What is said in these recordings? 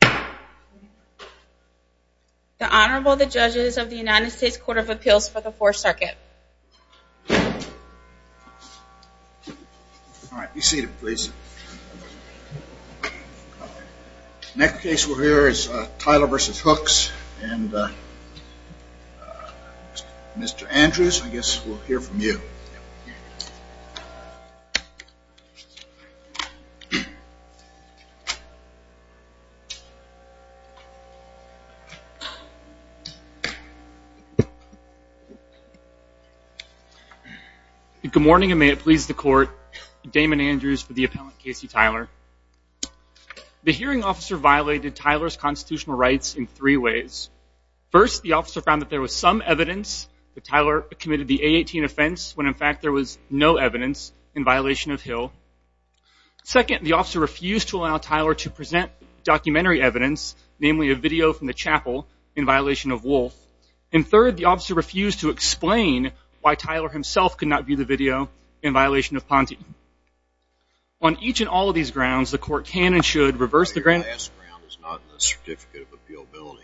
The Honorable the Judges of the United States Court of Appeals for the Fourth Circuit. All right, be seated please. Next case we'll hear is Tyler v. Hooks and Mr. Andrews, I think. Good morning and may it please the court, Damon Andrews for the appellant Casey Tyler. The hearing officer violated Tyler's constitutional rights in three ways. First, the officer found that there was some evidence that Tyler committed the A18 offense when in fact there was no evidence in violation of Hill. Second, the officer refused to allow Tyler to present documentary evidence, namely a video from the chapel in violation of Wolfe. And third, the officer refused to explain why Tyler himself could not view the video in violation of Ponte. On each and all of these grounds, the court can and should reverse the grand... Your last round is not in the certificate of appealability.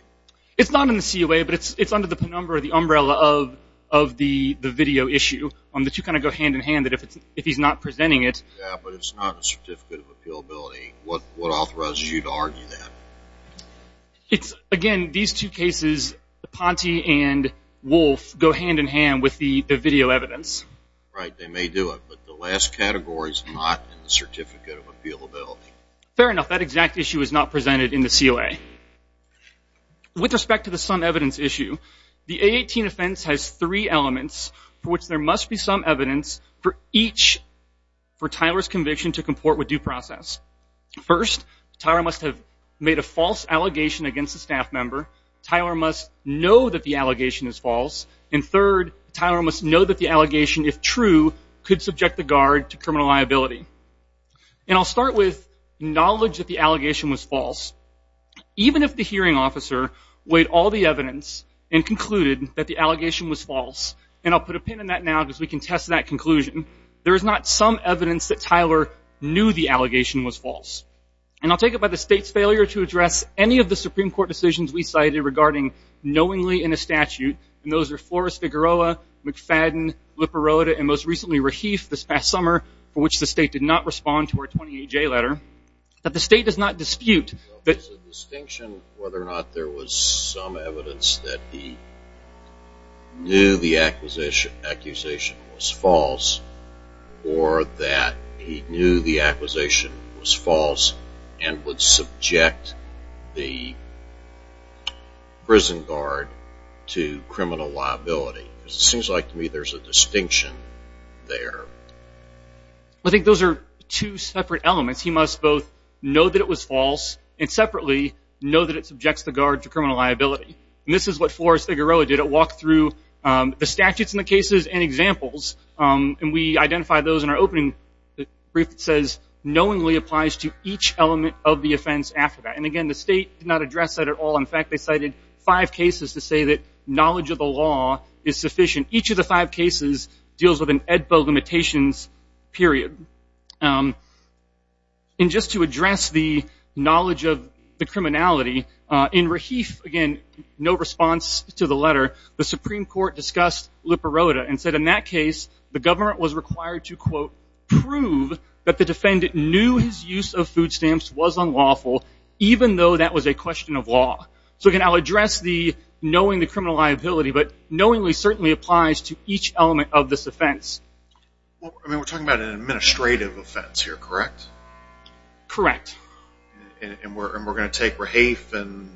It's not in the COA, but it's under the penumbra, the umbrella of the video issue on which you kind of go hand-in-hand if he's not presenting it. Yeah, but it's not in the certificate of appealability. What authorizes you to argue that? It's again, these two cases, the Ponte and Wolfe, go hand-in-hand with the video evidence. Right, they may do it, but the last category is not in the certificate of appealability. Fair enough. That exact issue is not presented in the COA. With respect to the some evidence issue, the A18 offense has three elements for which there must be some evidence for each for Tyler's conviction to comport with due process. First, Tyler must have made a false allegation against a staff member. Tyler must know that the allegation is false. And third, Tyler must know that the allegation, if true, could subject the guard to criminal liability. And I'll start with knowledge that the allegation was false. Even if the hearing officer weighed all the evidence and concluded that the allegation was false, and I'll put a pin in that now because we can test that conclusion, there is not some evidence that Tyler knew the allegation was false. And I'll take it by the state's failure to address any of the Supreme Court decisions we cited regarding knowingly in a statute, and those are Flores-Figueroa, McFadden, Liparota, and most recently, Raheef, this past summer, for which the state did not respond to our distinction whether or not there was some evidence that he knew the accusation was false or that he knew the accusation was false and would subject the prison guard to criminal liability. It seems like to me there's a distinction there. I think those are two separate elements. He must both know that it was false and separately know that it subjects the guard to criminal liability. And this is what Flores-Figueroa did. It walked through the statutes and the cases and examples, and we identified those in our opening brief that says, knowingly applies to each element of the offense after that. And again, the state did not address that at all. In fact, they cited five cases to say that knowledge of the law is sufficient. Each of the five cases deals with an Edbo limitations period. And just to address the knowledge of the criminality, in Raheef, again, no response to the letter, the Supreme Court discussed Liparota and said in that case, the government was required to, quote, prove that the defendant knew his use of food stamps was unlawful, even though that was a question of law. So again, I'll address the knowing the criminal liability, but knowingly certainly applies to each element of this offense. Well, I mean, we're talking about an administrative offense here, correct? Correct. And we're going to take Raheef and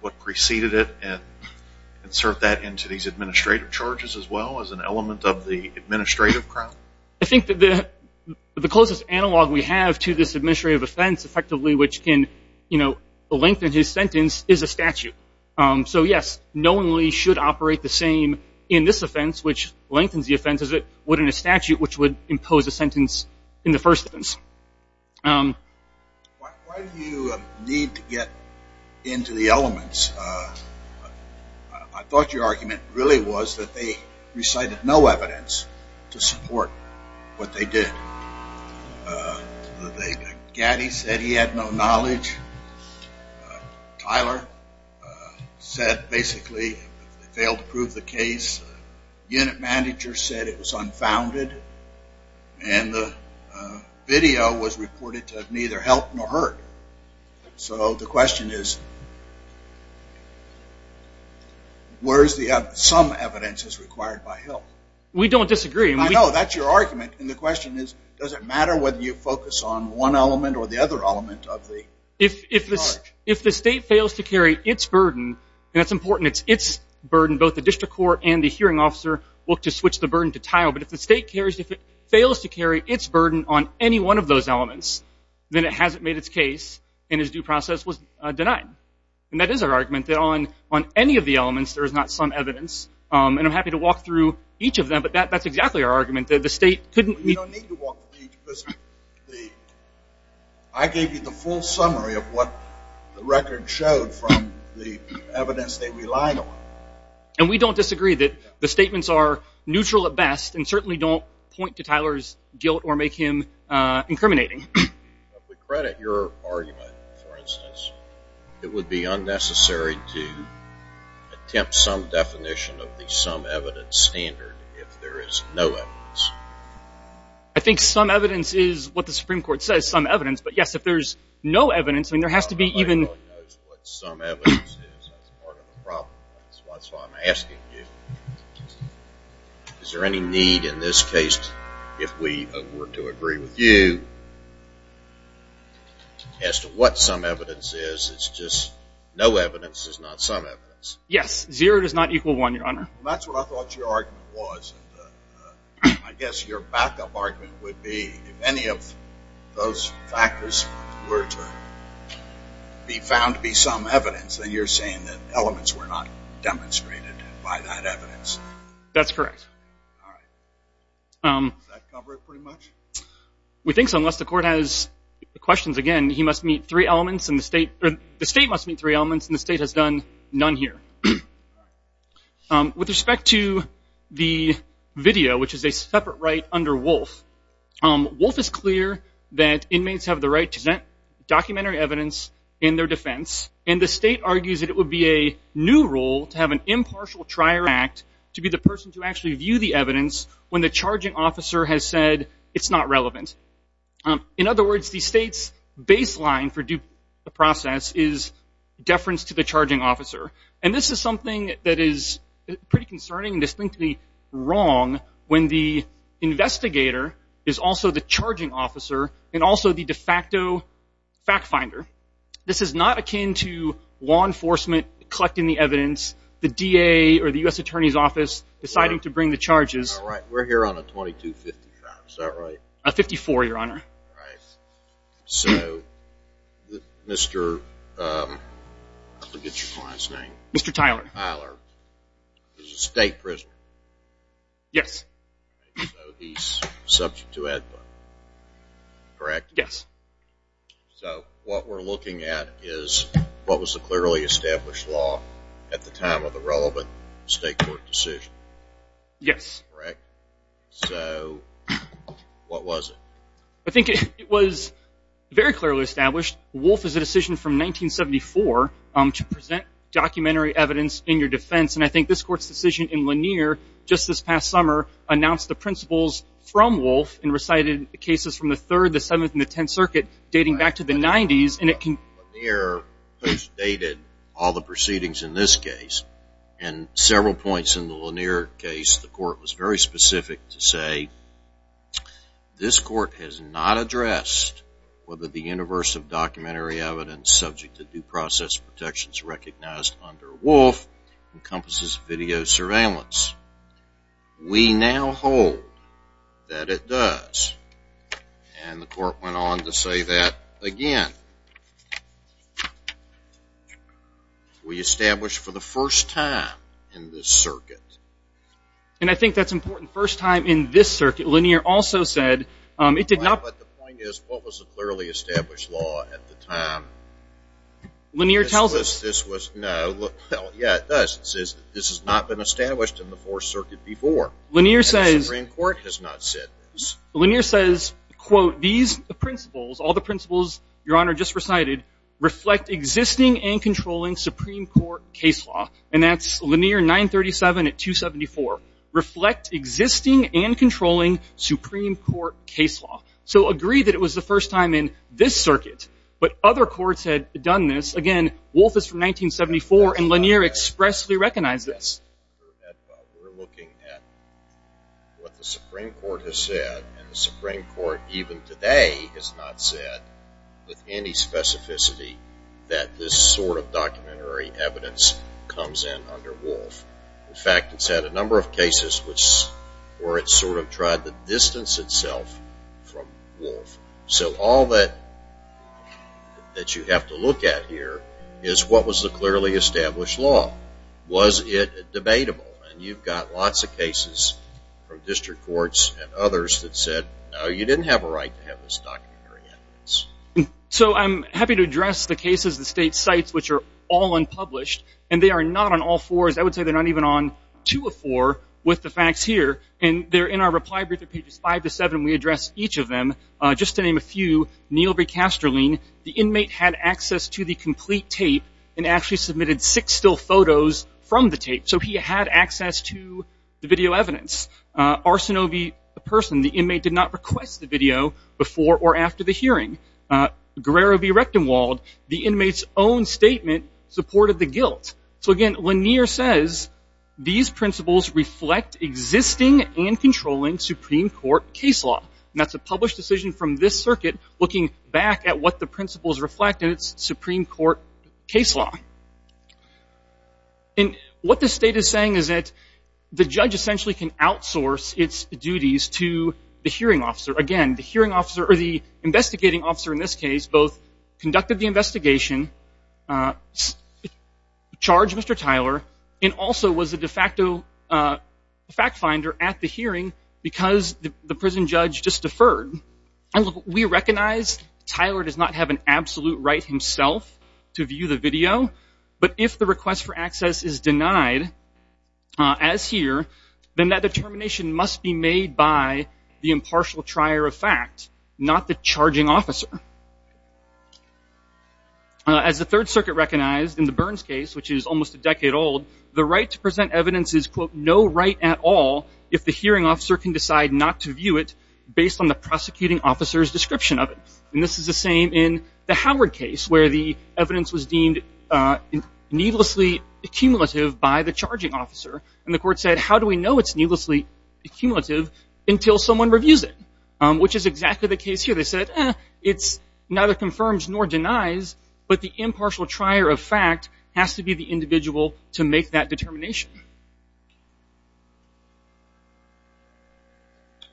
what preceded it and insert that into these administrative charges as well as an element of the administrative crown? I think that the closest analog we have to this administrative offense, effectively, which can, you know, lengthen his sentence, is a statute. So yes, knowingly should operate the same in this offense, which lengthens the offense as it would in a statute, which would impose a sentence in the first offense. Why do you need to get into the elements? I thought your argument really was that they recited no evidence to support what they did. Gaddy said he had no evidence. No knowledge. Tyler said, basically, they failed to prove the case. Unit manager said it was unfounded. And the video was reported to have neither helped nor hurt. So the question is, where is the evidence? Some evidence is required by Hill. We don't disagree. I know. That's your argument. And the question is, does it matter whether you focus on one or another element of the charge? If the state fails to carry its burden, and it's important, it's its burden. Both the district court and the hearing officer look to switch the burden to Tyler. But if the state fails to carry its burden on any one of those elements, then it hasn't made its case and his due process was denied. And that is our argument, that on any of the elements, there is not some evidence. And I'm happy to walk through each of them. But that's exactly our argument, that the state couldn't be... I gave you the full summary of what the record showed from the evidence they relied on. And we don't disagree that the statements are neutral at best and certainly don't point to Tyler's guilt or make him incriminating. If we credit your argument, for instance, it would be unnecessary to attempt some definition of the some evidence standard if there is no evidence. I think some evidence is what the Supreme Court says, some evidence. But yes, if there's no evidence, I mean, there has to be even... Nobody knows what some evidence is. That's part of the problem. That's why I'm asking you. Is there any need in this case, if we were to agree with you, as to what some evidence is? It's just no evidence is not some evidence. Yes. Zero does not equal one, Your Honor. That's what I thought your argument was. I guess your backup argument would be, if any of those factors were to be found to be some evidence, then you're saying that elements were not demonstrated by that evidence. That's correct. All right. Does that cover it pretty much? We think so, unless the Court has questions. Again, he must meet three elements and the other two are the evidence. With respect to the video, which is a separate right under Wolfe, Wolfe is clear that inmates have the right to present documentary evidence in their defense, and the state argues that it would be a new rule to have an impartial trial act to be the person to actually view the evidence when the charging officer has said it's not relevant. In other words, the is something that is pretty concerning and distinctly wrong when the investigator is also the charging officer and also the de facto fact finder. This is not akin to law enforcement collecting the evidence, the DA or the U.S. Attorney's Office deciding to bring the charges. All right. We're here on a 2250 trial. Is that right? A 54, Your Honor. All right. So, Mr. I forget your client's name. Mr. Tyler. Tyler. He's a state prisoner. Yes. So, he's subject to Edmund. Correct? Yes. So, what we're looking at is what was the clearly established law at the time of the relevant state court decision. Yes. Correct? So, what was it? I think it was very clearly established. Wolf is a decision from 1974 to present documentary evidence in your defense. And I think this court's decision in Lanier just this past summer announced the principles from Wolf and recited cases from the 3rd, the 7th, and the 10th Circuit dating back to the 90s. Lanier has dated all the proceedings in this case. And several points in the Lanier case, the court was very specific to say, this court has not addressed whether the universe of documentary evidence subject to due process protections recognized under Wolf encompasses video surveillance. We now hold that it does. And the court went on to say that again. We established for the first time in this circuit. And I think that's important. First time in this circuit. Lanier also said, it did not But the point is, what was the clearly established law at the time? Lanier tells us. This was, no. Yeah, it does. It says this has not been established in the 4th Circuit before. Lanier says. And the Supreme Court has not said this. Lanier says, quote, these principles, all the principles, Your Honor, just recited, reflect existing and controlling Supreme Court case law. And that's Lanier 937 at 274. Reflect existing and controlling Supreme Court case law. So agree that it was the first time in this circuit. But other courts had done this. Again, Wolf is from 1974. And Lanier expressly recognized this. We're looking at what the Supreme Court has said. And the Supreme Court, even today, has not said with any specificity that this sort of documentary evidence comes in under Wolf. In fact, it's had a number of cases where it sort of tried to distance itself from Wolf. So all that you have to look at here is, what was the clearly established law? Was it debatable? And you've got lots of cases from district courts and others that said, no, you didn't have a right to have this documentary evidence. So I'm happy to address the cases the state cites, which are all unpublished. And they are not on all fours. I would say they're not even on two of four with the facts here. And they're in our reply brief at pages 5 to 7. We address each of them. Just to name a few, Neal B. Casterling, the inmate had access to the complete tape and actually submitted six still photos from the tape. So he had access to the video evidence. Arsinovi, the person, the inmate did not request the video before or after the hearing. Guerrero B. Rechtenwald, the inmate's own statement supported the guilt. So again, Lanier says, these principles reflect existing and controlling Supreme Court case law. And that's a published decision from this circuit looking back at what the principles reflect in its Supreme Court case law. And what the state is saying is that the judge essentially can outsource its duties to the hearing officer. Again, the hearing officer, or the investigating officer in this case, both conducted the investigation, charged Mr. Tyler, and also was a de facto fact finder at the hearing because the prison judge just deferred. We recognize Tyler does not have an absolute right himself to view the video, but if the request for access is denied, as here, then that determination must be made by the impartial trier of fact, not the charging officer. As the Third Circuit recognized in the Burns case, which is almost a decade old, the right to present evidence is, quote, no right at all if the hearing officer can decide not to view it based on the prosecuting officer's description of it. And this is the same in the Howard case, where the evidence was deemed needlessly accumulative by the charging officer. And the court said, how do we know it's needlessly accumulative until someone reviews it? Which is exactly the case here. They said, eh, it neither confirms nor denies, but the impartial trier of fact has to be the individual to make that determination.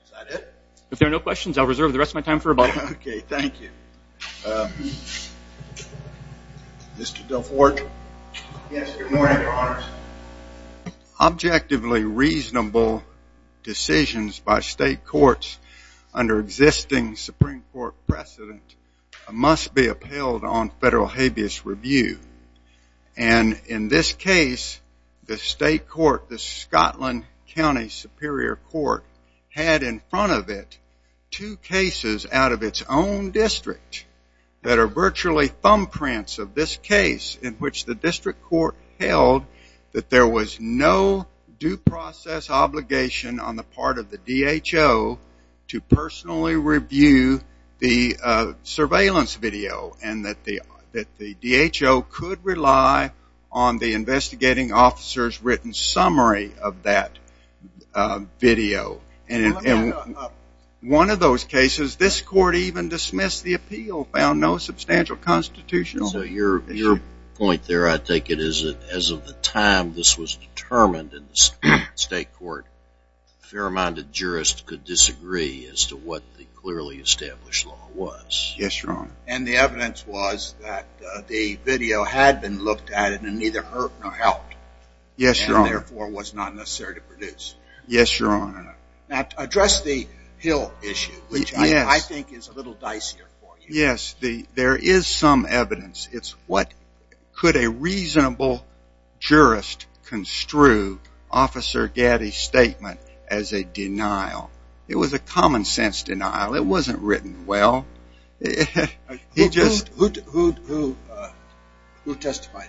Is that it? If there are no questions, I'll reserve the rest of my time for rebuttal. Okay, thank you. Mr. Delfort? Yes, good morning, Your Honors. Objectively reasonable decisions by state courts under existing Supreme Court precedent must be upheld on federal habeas review. And in this case, the state court, the Scotland County Superior Court, had in front of it two cases out of its own district that are virtually thumbprints of this case, in which the district court held that there was no due process obligation on the part of the DHO to personally review the surveillance video, and that the DHO could rely on the investigating officer's written summary of that video. And one of those cases, this court even dismissed the appeal, found no substantial constitutional issue. So your point there, I think it is that as of the time this was determined in the state court, a fair-minded jurist could disagree as to what the clearly established law was. Yes, Your Honor. And the evidence was that the video had been looked at and neither hurt nor helped. Yes, Your Honor. And therefore was not necessary to produce. Yes, Your Honor. Now, to address the Hill issue, which I think is a little dicier for you. Yes, there is some evidence. It's what could a reasonable jurist construe Officer Gaddy's statement as a denial. It was a common-sense denial. It wasn't written well. Who testified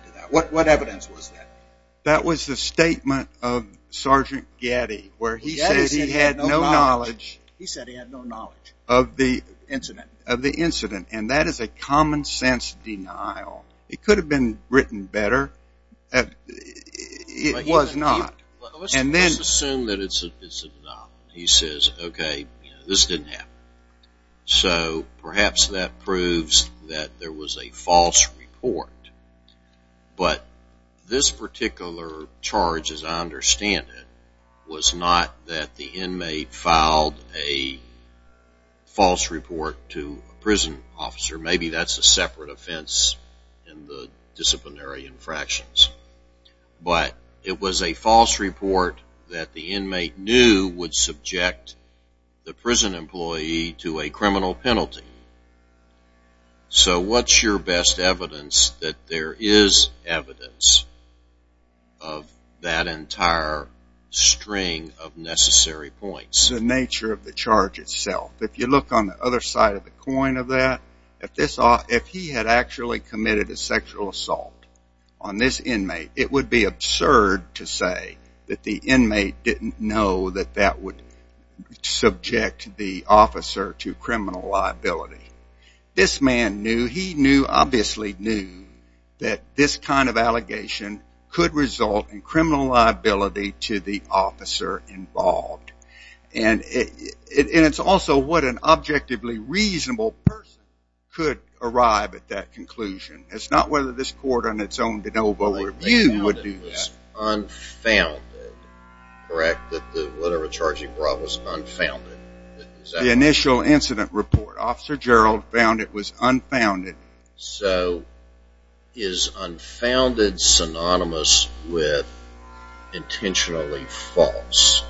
to that? What evidence was that? That was the statement of Sergeant Gaddy where he said he had no knowledge of the incident. And that is a common-sense denial. It could have been written better. It was not. Let's assume that it's a denial. He says, okay, this didn't happen. So perhaps that proves that there was a false report. But this particular charge, as I understand it, was not that the inmate filed a false report to a prison officer. Maybe that's a separate offense in the disciplinary infractions. But it was a false report that the inmate knew would subject the prison employee to a criminal penalty. So what's your best evidence that there is evidence of that entire string of necessary points? The nature of the charge itself. If you look on the other side of the coin of that, if he had actually committed a sexual assault on this inmate, it would be absurd to say that the inmate didn't know that that would subject the officer to criminal liability. This man knew, he knew, obviously knew, that this kind of allegation could result in criminal liability to the officer involved. And it's also what an objectively reasonable person could arrive at that conclusion. It's not whether this court on its own de novo review would do that. It was unfounded, correct? That whatever charge he brought was unfounded. The initial incident report, Officer Gerald found it was unfounded. So is unfounded synonymous with intentionally false?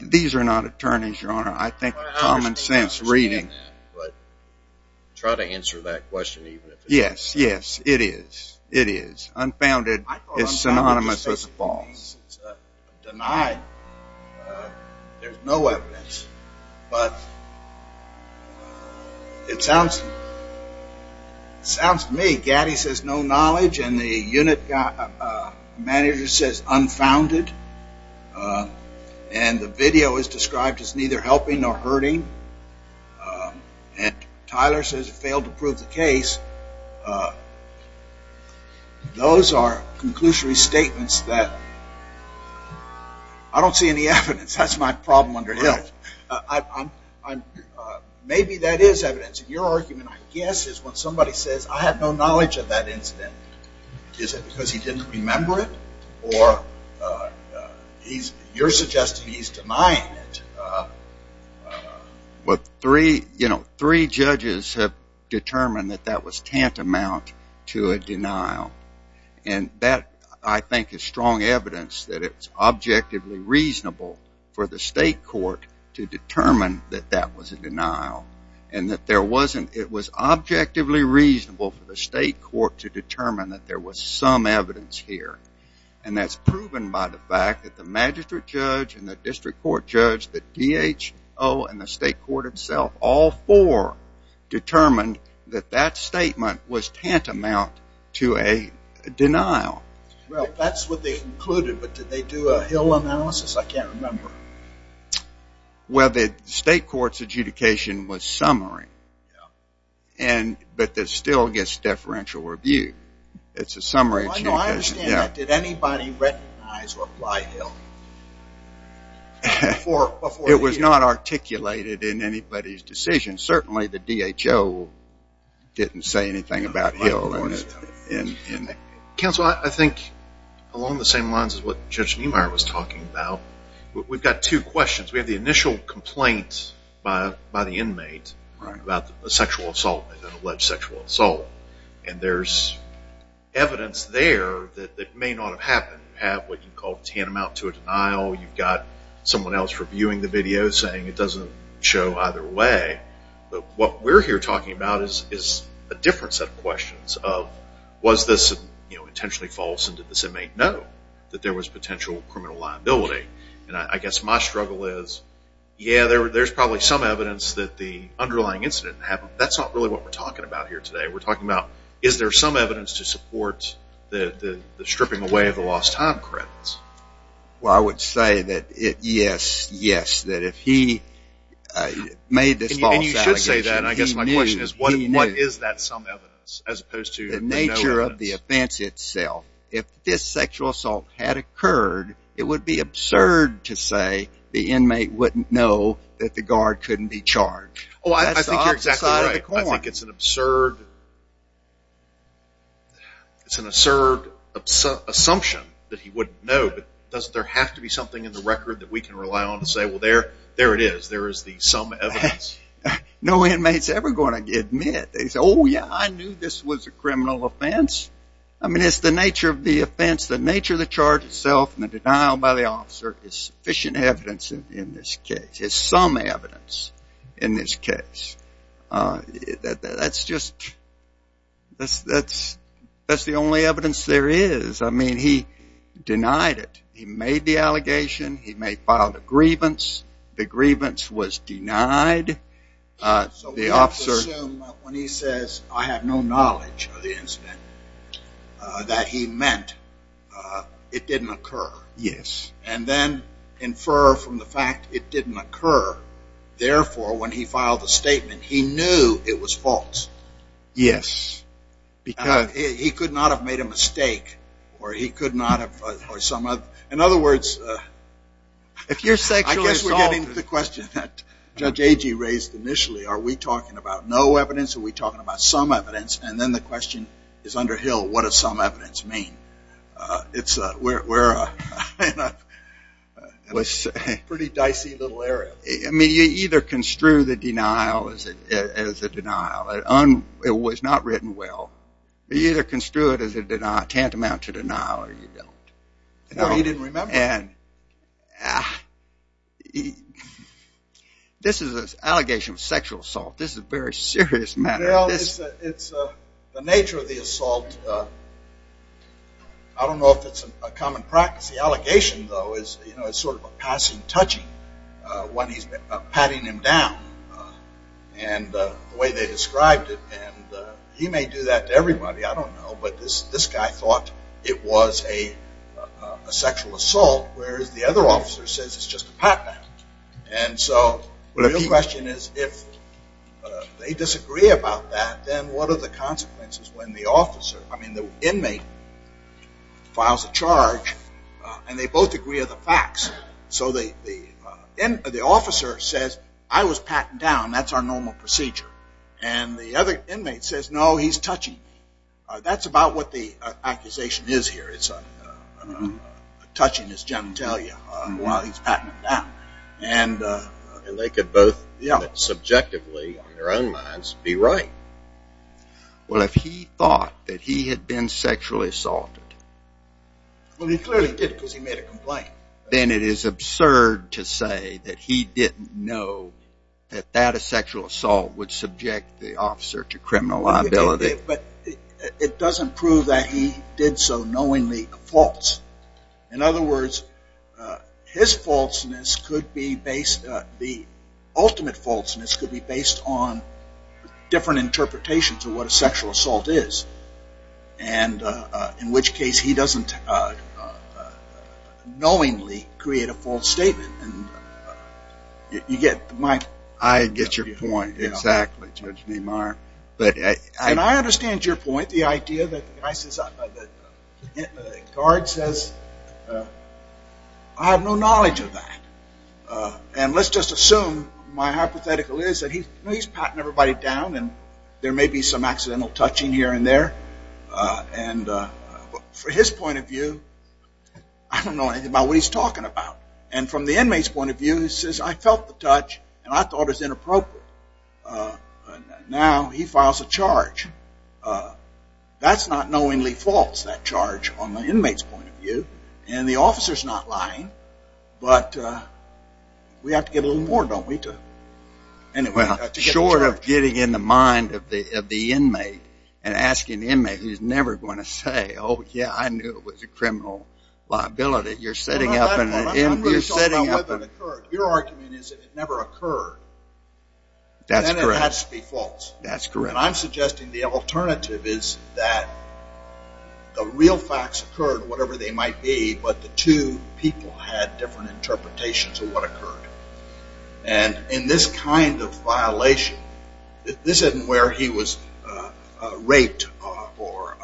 These are not attorneys, Your Honor. I think common sense reading. Try to answer that question. Yes, yes, it is. It is. Unfounded is synonymous with false. It's denied. There's no evidence. But it sounds to me, Gaddy says no knowledge and the unit manager says unfounded. And the video is described as neither helping nor hurting. And Tyler says it failed to prove the case. Those are conclusory statements that I don't see any evidence. That's my problem under health. Maybe that is evidence. Your argument, I guess, is when somebody says I have no knowledge of that incident. Is it because he didn't remember it? Or you're suggesting he's denying it. Well, three judges have determined that that was tantamount to a denial. And that, I think, is strong evidence that it's objectively reasonable for the state court to determine that that was a denial. And that it was objectively reasonable for the state court to determine that there was some evidence here. And that's proven by the fact that the magistrate judge and the district court judge, the DHO and the state court itself, all four determined that that statement was tantamount to a denial. Well, that's what they concluded. But did they do a Hill analysis? I can't remember. Well, the state court's adjudication was summary. But that still gets deferential review. It's a summary. I understand that. Did anybody recognize or apply Hill? It was not articulated in anybody's decision. Certainly the DHO didn't say anything about Hill. Counsel, I think along the same lines as what Judge Niemeyer was talking about, we've got two questions. We have the initial complaint by the inmate about a sexual assault, an alleged sexual assault. And there's evidence there that may not have happened. You have what you call tantamount to a denial. You've got someone else reviewing the video saying it doesn't show either way. But what we're here talking about is a different set of questions of was this intentionally false and did this inmate know that there was potential criminal liability. And I guess my struggle is, yeah, there's probably some evidence that the underlying incident happened. But that's not really what we're talking about here today. We're talking about is there some evidence to support the stripping away of the lost time credits? Well, I would say that yes, yes, that if he made this false allegation, he knew. And you should say that. And I guess my question is what is that some evidence as opposed to no evidence? The nature of the offense itself. If this sexual assault had occurred, it would be absurd to say the inmate wouldn't know that the guard couldn't be charged. Oh, I think you're exactly right. That's the opposite side of the coin. I think it's an absurd assumption that he wouldn't know. But doesn't there have to be something in the record that we can rely on to say, well, there it is. There is the some evidence. No inmate's ever going to admit. They say, oh, yeah, I knew this was a criminal offense. I mean, it's the nature of the offense, the nature of the charge itself, and the denial by the officer is sufficient evidence in this case. It's some evidence in this case. That's just, that's the only evidence there is. I mean, he denied it. He made the allegation. He may have filed a grievance. The grievance was denied. So we have to assume when he says I have no knowledge of the incident that he meant it didn't occur. Yes. And then infer from the fact it didn't occur. Therefore, when he filed the statement, he knew it was false. Yes. He could not have made a mistake or he could not have, or some other. In other words, I guess we're getting to the question that Judge Agee raised initially. Are we talking about no evidence? Are we talking about some evidence? And then the question is under Hill, what does some evidence mean? It's a pretty dicey little area. I mean, you either construe the denial as a denial. It was not written well. You either construe it as a tantamount to denial or you don't. No, he didn't remember. This is an allegation of sexual assault. This is a very serious matter. Well, it's the nature of the assault. I don't know if it's a common practice. The allegation, though, is sort of a passing touching when he's patting him down. And the way they described it, and he may do that to everybody, I don't know, but this guy thought it was a sexual assault, whereas the other officer says it's just a pat down. And so the real question is if they disagree about that, then what are the consequences when the officer, I mean the inmate, files a charge and they both agree are the facts. So the officer says, I was patting down. That's our normal procedure. And the other inmate says, no, he's touching me. That's about what the accusation is here. It's a touching, as Jim will tell you, while he's patting him down. And they could both subjectively, in their own minds, be right. Well, if he thought that he had been sexually assaulted. Well, he clearly did because he made a complaint. Then it is absurd to say that he didn't know that that sexual assault would subject the officer to criminal liability. But it doesn't prove that he did so knowingly false. In other words, his falseness could be based, the ultimate falseness, could be based on different interpretations of what a sexual assault is. And in which case he doesn't knowingly create a false statement. And you get my point. I get your point, exactly, Judge Meemeyer. And I understand your point, the idea that the guard says, I have no knowledge of that. And let's just assume, my hypothetical is, that he's patting everybody down and there may be some accidental touching here and there. And from his point of view, I don't know anything about what he's talking about. And from the inmate's point of view, he says, I felt the touch and I thought it was inappropriate. Now he files a charge. That's not knowingly false, that charge, on the inmate's point of view. And the officer's not lying. But we have to get a little more, don't we, to get a charge? Well, short of getting in the mind of the inmate and asking the inmate, he's never going to say, oh, yeah, I knew it was a criminal liability. You're setting up an inmate. Your argument is that it never occurred. That's correct. Then it has to be false. That's correct. And I'm suggesting the alternative is that the real facts occurred, whatever they might be, but the two people had different interpretations of what occurred. And in this kind of violation, this isn't where he was raped or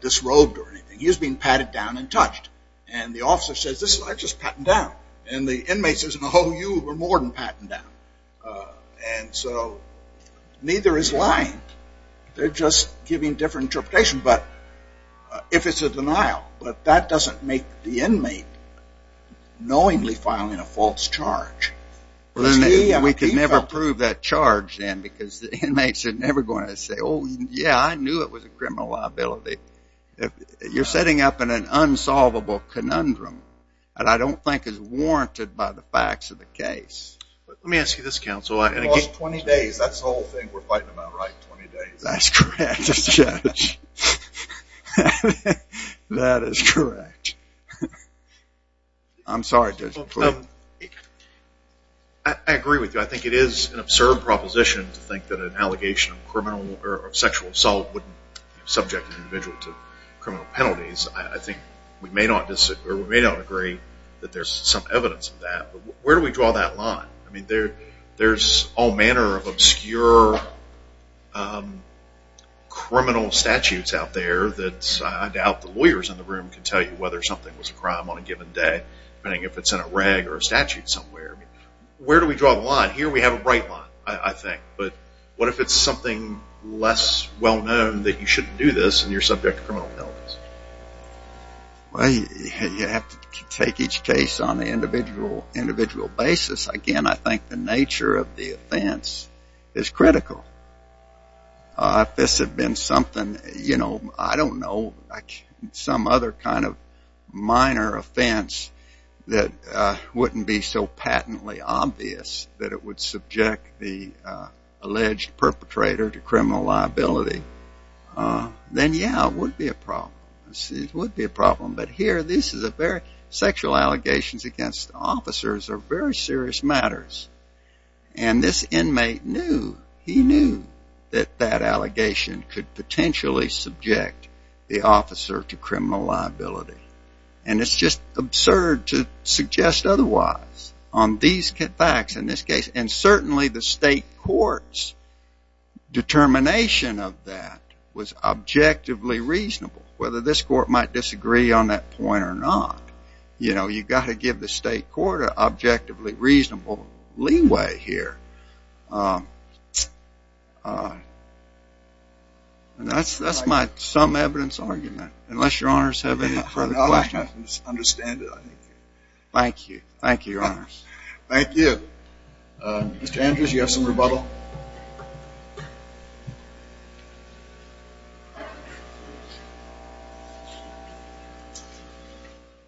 disrobed or anything. He was being patted down and touched. And the officer says, I just patted him down. And the inmate says, no, you were more than patted down. And so neither is lying. They're just giving different interpretations, if it's a denial. But that doesn't make the inmate knowingly filing a false charge. We can never prove that charge then because the inmates are never going to say, oh, yeah, I knew it was a criminal liability. You're setting up an unsolvable conundrum that I don't think is warranted by the facts of the case. Let me ask you this, counsel. I lost 20 days. That's the whole thing we're fighting about, right, 20 days? That's correct, Judge. That is correct. I'm sorry, Judge. I agree with you. I think it is an absurd proposition to think that an allegation of sexual assault would subject an individual to criminal penalties. I think we may not agree that there's some evidence of that. But where do we draw that line? I mean, there's all manner of obscure criminal statutes out there that I doubt the lawyers in the room can tell you whether something was a crime on a given day, depending if it's in a reg or a statute somewhere. Where do we draw the line? Here we have a bright line, I think. But what if it's something less well-known that you shouldn't do this and you're subject to criminal penalties? Well, you have to take each case on an individual basis. Again, I think the nature of the offense is critical. If this had been something, you know, I don't know, some other kind of minor offense that wouldn't be so patently obvious that it would subject the alleged perpetrator to criminal liability, then, yeah, it would be a problem. It would be a problem. But here, sexual allegations against officers are very serious matters. And this inmate knew. He knew that that allegation could potentially subject the officer to criminal liability. And it's just absurd to suggest otherwise on these facts in this case. And certainly the state court's determination of that was objectively reasonable, whether this court might disagree on that point or not. You know, you've got to give the state court an objectively reasonable leeway here. And that's my some evidence argument, unless Your Honors have any further questions. No, I understand it. Thank you. Thank you, Your Honors. Thank you. Mr. Andrews, you have some rebuttal?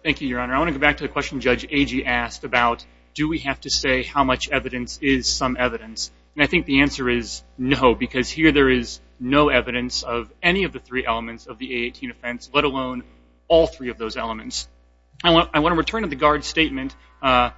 Thank you, Your Honor. I want to go back to the question Judge Agee asked about, do we have to say how much evidence is some evidence? And I think the answer is no, because here there is no evidence of any of the three elements of the A18 offense, let alone all three of those elements. I want to return to the guard statement. My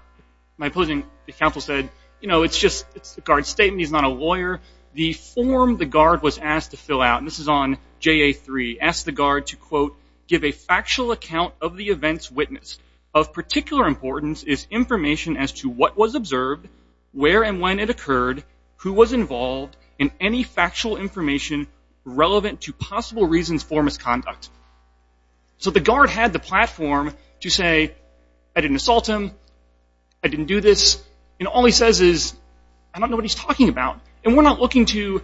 opposing counsel said, you know, it's just a guard statement. He's not a lawyer. The form the guard was asked to fill out, and this is on JA3, asked the guard to, quote, give a factual account of the event's witness. Of particular importance is information as to what was observed, where and when it occurred, who was involved, and any factual information relevant to possible reasons for misconduct. So the guard had the platform to say, I didn't assault him, I didn't do this, and all he says is, I don't know what he's talking about. And we're not looking to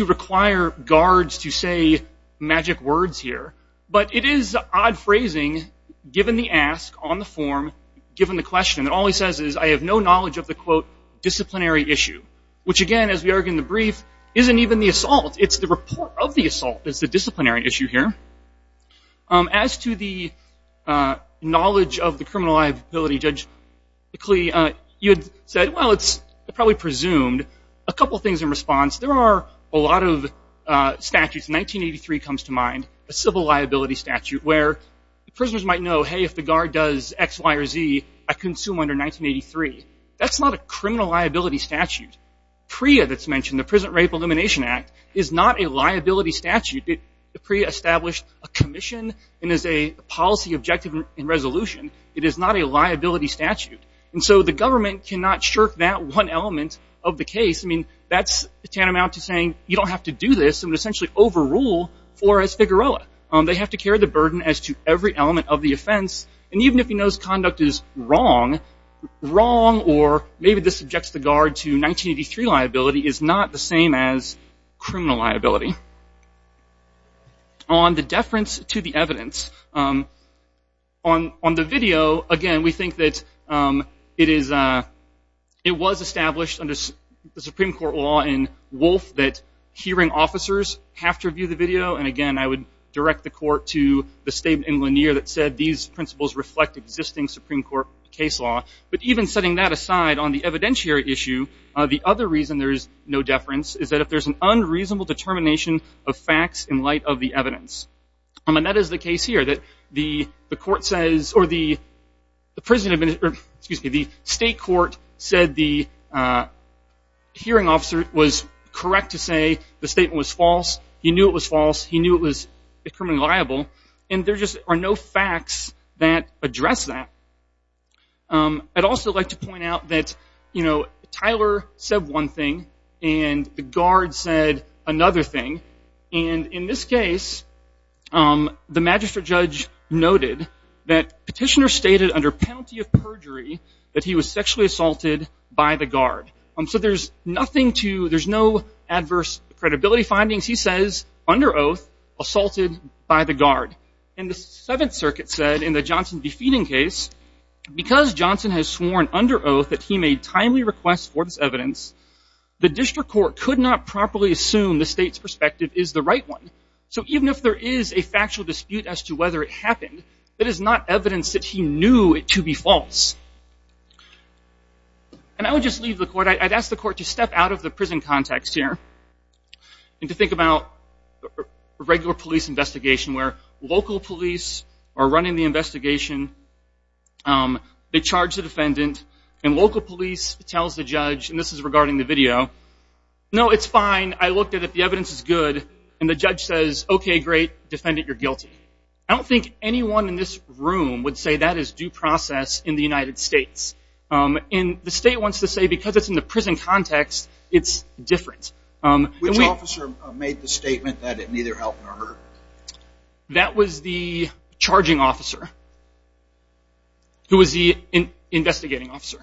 require guards to say magic words here, but it is odd phrasing, given the ask on the form, given the question. All he says is, I have no knowledge of the, quote, disciplinary issue, which, again, as we argue in the brief, isn't even the assault. It's the report of the assault that's the disciplinary issue here. As to the knowledge of the criminal liability, Judge McLee, you had said, well, it's probably presumed. A couple things in response. There are a lot of statutes. 1983 comes to mind, a civil liability statute, where the prisoners might know, hey, if the guard does X, Y, or Z, I consume under 1983. That's not a criminal liability statute. PREA that's mentioned, the Prison Rape Elimination Act, is not a liability statute. PREA established a commission and is a policy objective in resolution. It is not a liability statute. And so the government cannot shirk that one element of the case. I mean, that's tantamount to saying, you don't have to do this, and essentially overrule Flores-Figueroa. They have to carry the burden as to every element of the offense. And even if he knows conduct is wrong, wrong, or maybe this subjects the guard to 1983 liability, is not the same as criminal liability. On the deference to the evidence, on the video, again, we think that it was established under the Supreme Court law in Wolfe that hearing officers have to review the video. And again, I would direct the court to the statement in Lanier that said, these principles reflect existing Supreme Court case law. But even setting that aside, on the evidentiary issue, the other reason there is no deference is that if there's an unreasonable determination of facts in light of the evidence. And that is the case here, that the court says, or the state court said the hearing officer was correct to say the statement was false. He knew it was false. He knew it was criminally liable. And there just are no facts that address that. I'd also like to point out that, you know, Tyler said one thing, and the guard said another thing. And in this case, the magistrate judge noted that petitioner stated under penalty of perjury that he was sexually assaulted by the guard. So there's nothing to, there's no adverse credibility findings. He says, under oath, assaulted by the guard. And the Seventh Circuit said in the Johnson defeating case, because Johnson has sworn under oath that he made timely requests for this evidence, the district court could not properly assume the state's perspective is the right one. So even if there is a factual dispute as to whether it happened, that is not evidence that he knew it to be false. And I would just leave the court, I'd ask the court to step out of the prison context here and to think about regular police investigation, where local police are running the investigation, they charge the defendant, and local police tells the judge, and this is regarding the video, no, it's fine, I looked at it, the evidence is good, and the judge says, okay, great, defendant, you're guilty. I don't think anyone in this room would say that is due process in the United States. And the state wants to say because it's in the prison context, it's different. Which officer made the statement that it neither helped nor hurt? That was the charging officer, who was the investigating officer.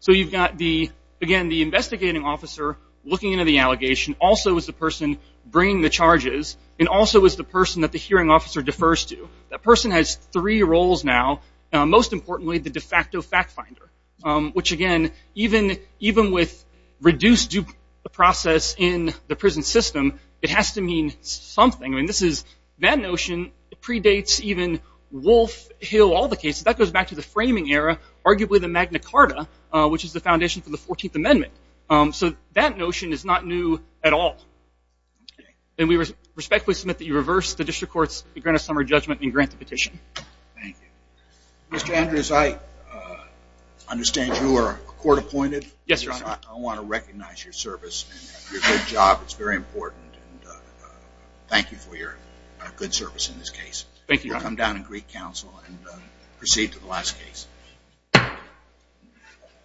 So you've got the, again, the investigating officer looking into the allegation, also is the person bringing the charges, and also is the person that the hearing officer defers to. That person has three roles now, most importantly, the de facto fact finder, which, again, even with reduced due process in the prison system, it has to mean something. I mean, this is, that notion predates even Wolf, Hill, all the cases. That goes back to the framing era, arguably the Magna Carta, which is the foundation for the 14th Amendment. So that notion is not new at all. And we respectfully submit that you reverse the district courts, grant a summary judgment, and grant the petition. Thank you. Mr. Andrews, I understand you are court-appointed. Yes, Your Honor. I want to recognize your service and your good job. It's very important. And thank you for your good service in this case. Thank you, Your Honor. We'll come down in Greek Council and proceed to the last case.